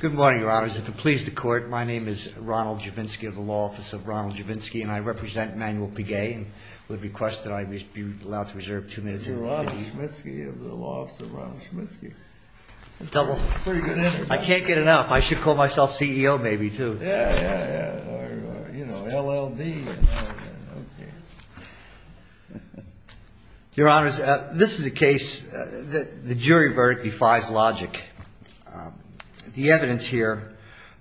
Good morning, your honors. If it pleases the court, my name is Ronald Javinsky of the law office of Ronald Javinsky, and I represent Manuel Pigue and would request that I be allowed to reserve two minutes. You're Ronald Javinsky of the law office of Ronald Javinsky. I can't get enough. I should call myself CEO maybe too. Yeah, yeah, yeah. Or, you know, LLD. Your honors, this is a case that the jury verdict defies logic. The evidence here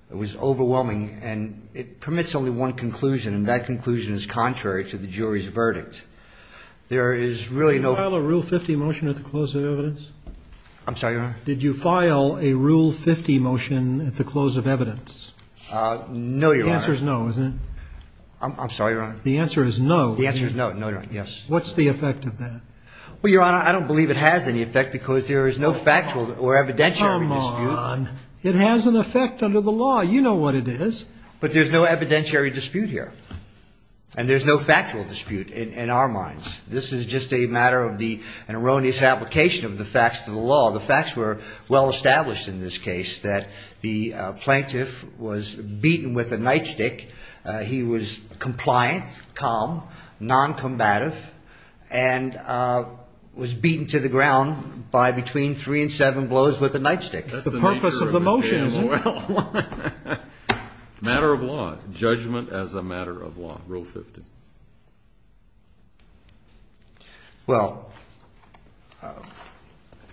was overwhelming and it permits only one conclusion. And that conclusion is contrary to the jury's verdict. There is really no rule 50 motion at the close of evidence. I'm sorry, your honor. Did you file a rule 50 motion at the close of evidence? Uh, no, your answer is no, isn't it? I'm sorry, your honor. The answer is no. The answer is no. No, you're right. Yes. What's the effect of that? Well, your honor, I don't believe it has any effect because there is no factual or evidentiary dispute. It has an effect under the law. You know what it is, but there's no evidentiary dispute here and there's no factual dispute in our minds. This is just a matter of the, an erroneous application of the facts to the law. The facts were well established in this case that the plaintiff was beaten with a nightstick. Uh, he was compliant, calm, noncombative, and, uh, was beaten to the ground by between three and seven blows with a nightstick. That's the purpose of the motion. Matter of law, judgment as a matter of law, rule 50. Well,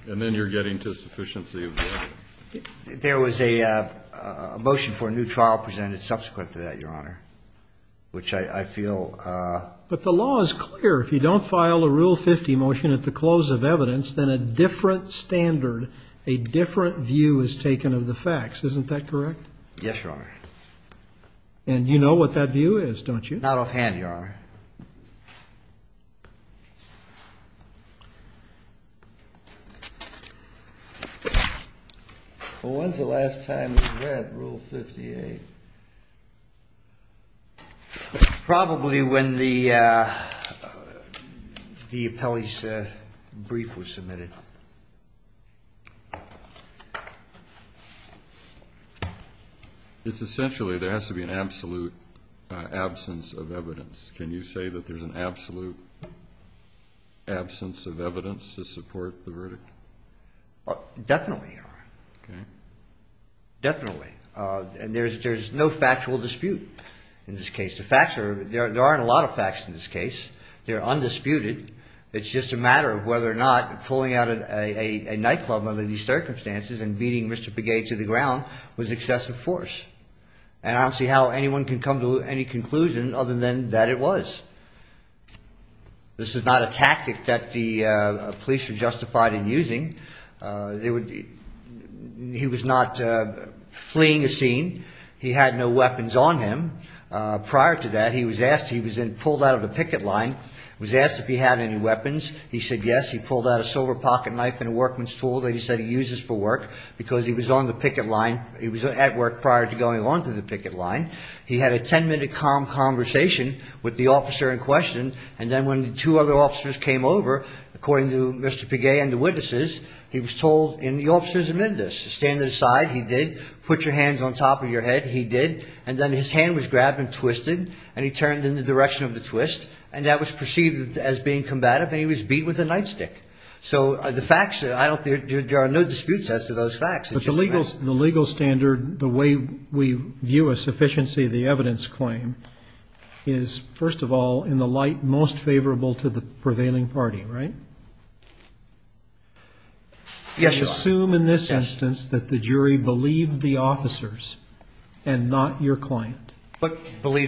and then you're getting to sufficiency of the law. There was a, uh, a motion for a new trial presented subsequent to that, your honor, which I feel, uh, but the law is clear. If you don't file a rule 50 motion at the close of evidence, then a different standard, a different view is taken of the facts. Isn't that correct? Yes, your honor. And you know what that view is, don't you? Not offhand, your honor. Well, when's the last time we read rule 58? Probably when the, uh, the appellee's brief was submitted. It's essentially, there has to be an absolute, uh, absence of evidence. Can you say that there's an absolute absence of evidence to support the verdict? Oh, definitely, your honor. Okay. Definitely. Uh, and there's, there's no factual dispute in this case. The facts are, there, there aren't a lot of facts in this case. They're undisputed. It's just a matter of whether or not pulling out a nightclub under these circumstances and beating Mr. Begay to the ground was excessive force. And I don't see how anyone can come to any conclusion other than that it was. This is not a tactic that the, uh, police are justified in using. Uh, they would, he was not, uh, fleeing the scene. He had no weapons on him. Uh, prior to that, he was asked, he was in pulled out of the picket line, was asked if he had any weapons. He said, yes. He pulled out a silver pocket knife and a workman's tool that he said he uses for work because he was on the picket line. He was at work prior to going on to the picket line. He had a 10 minute calm conversation with the officer in question. And then when the two other officers came over, according to Mr. Begay and the witnesses, he was told in the officer's amendments, stand aside. He did put your hands on top of your head. He did. And then his hand was grabbed and twisted and he turned in the direction of the And that was perceived as being combative. And he was beat with a nightstick. So the facts, I don't, there are no disputes as to those facts. It's just the legal, the legal standard, the way we view a sufficiency of the evidence claim is first of all, in the light most favorable to the prevailing party, right? Yes. Assume in this instance that the jury believed the officers and not your They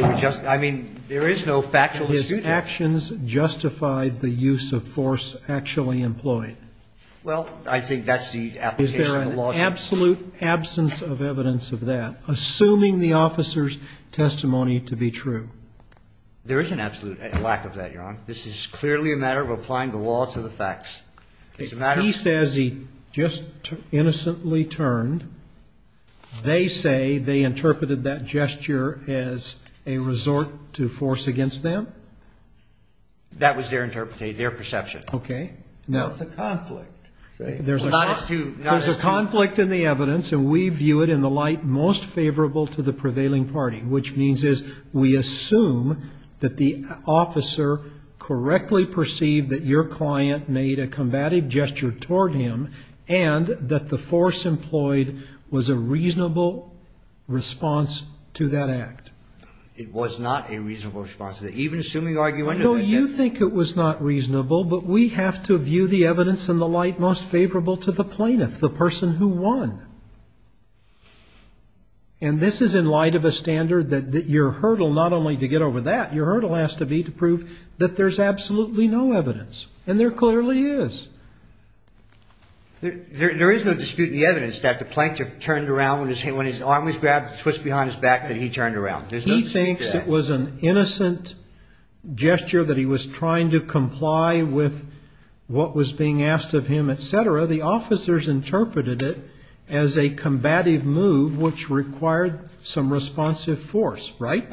were just, I mean, there is no factual dispute. His actions justified the use of force actually employed. Well, I think that's the application of the law. Is there an absolute absence of evidence of that, assuming the officer's testimony to be true? There is an absolute lack of that, Your Honor. This is clearly a matter of applying the law to the facts. He says he just innocently turned. They say they interpreted that gesture as a resort to force against them. That was their interpretation, their perception. Okay. Now it's a conflict. There's a conflict in the evidence and we view it in the light most favorable to the prevailing party, which means is we assume that the officer correctly perceived that your client made a combative gesture toward him and that the force employed was a reasonable response to that act. It was not a reasonable response to that. Even assuming argument. No, you think it was not reasonable, but we have to view the evidence in the light most favorable to the plaintiff, the person who won. And this is in light of a standard that your hurdle, not only to get over that, your hurdle has to be to prove that there's absolutely no evidence and there clearly is. There, there, there is no dispute in the evidence that the plaintiff turned around when his hand, when his arm was grabbed, twist behind his back, that he turned around. There's no, he thinks it was an innocent gesture that he was trying to comply with what was being asked of him, et cetera. The officers interpreted it as a combative move, which required some responsive force, right?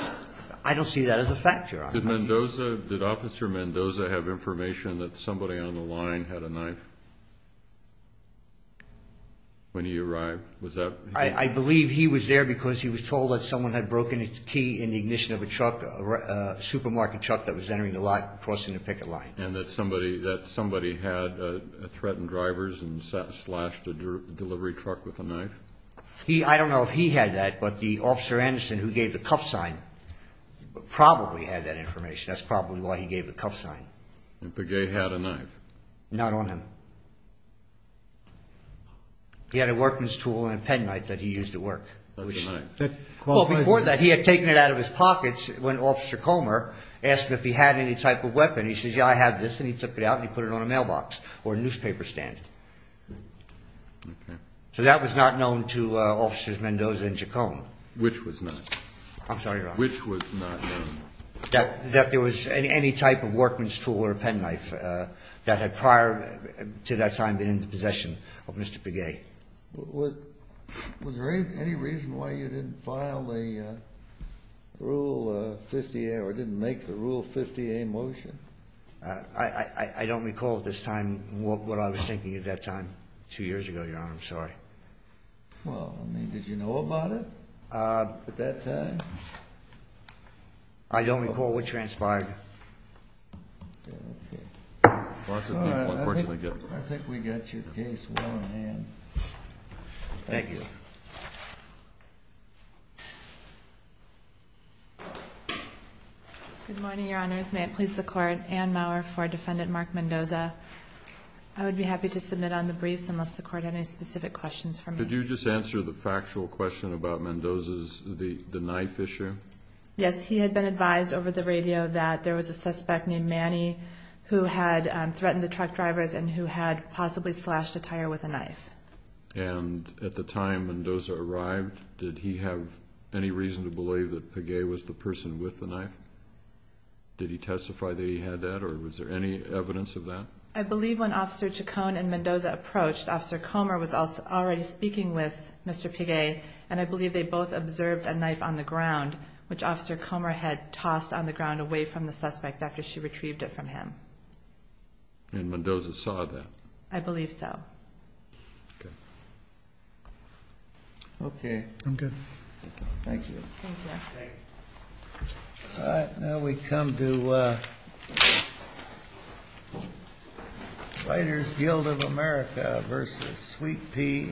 I don't see that as a factor. Did Mendoza, did officer Mendoza have information that somebody on the line had a knife when he arrived? Was that? I believe he was there because he was told that someone had broken a key in the ignition of a truck, a supermarket truck that was entering the lot, crossing the picket line. And that somebody, that somebody had threatened drivers and slashed a delivery truck with a knife? He, I don't know if he had that, but the officer Anderson who gave the cuff sign probably had that information. That's probably why he gave the cuff sign. And Pegay had a knife? Not on him. He had a workman's tool and a pen knife that he used to work. Well, before that, he had taken it out of his pockets when officer Comer asked him if he had any type of weapon. He says, yeah, I have this. And he took it out and he put it on a mailbox or a newspaper stand. So that was not known to officers Mendoza and Chacoma. Which was not? I'm sorry, Ron. Which was not known? That there was any type of workman's tool or a pen knife that had prior to that time been in the possession of Mr. Pegay. Was there any reason why you didn't file the Rule 50A or didn't make the Rule 50A motion? I don't recall at this time what I was thinking at that time, two years ago, Your Honor. I'm sorry. Well, I mean, did you know about it at that time? I don't recall what transpired. I think we got your case well in hand. Thank you. Good morning, Your Honors. May it please the Court. Anne Maurer for Defendant Mark Mendoza. I would be happy to submit on the briefs unless the Court had any specific questions for me. Could you just answer the factual question about Mendoza's, the knife issue? Yes. He had been advised over the radio that there was a suspect named Manny who had threatened the truck drivers and who had possibly slashed a tire with a knife. And at the time Mendoza arrived, did he have any reason to believe that Pegay was the person with the knife? Did he testify that he had that or was there any evidence of that? I believe when Officer Chacon and Mendoza approached, Officer Comer was already speaking with Mr. Pegay, and I believe they both observed a knife on the ground, which Officer Comer had tossed on the ground away from the suspect after she retrieved it from him. And Mendoza saw that? I believe so. Okay. I'm good. Thank you. Thank you. Now we come to Writers Guild of America versus Sweet Pea Entertainment.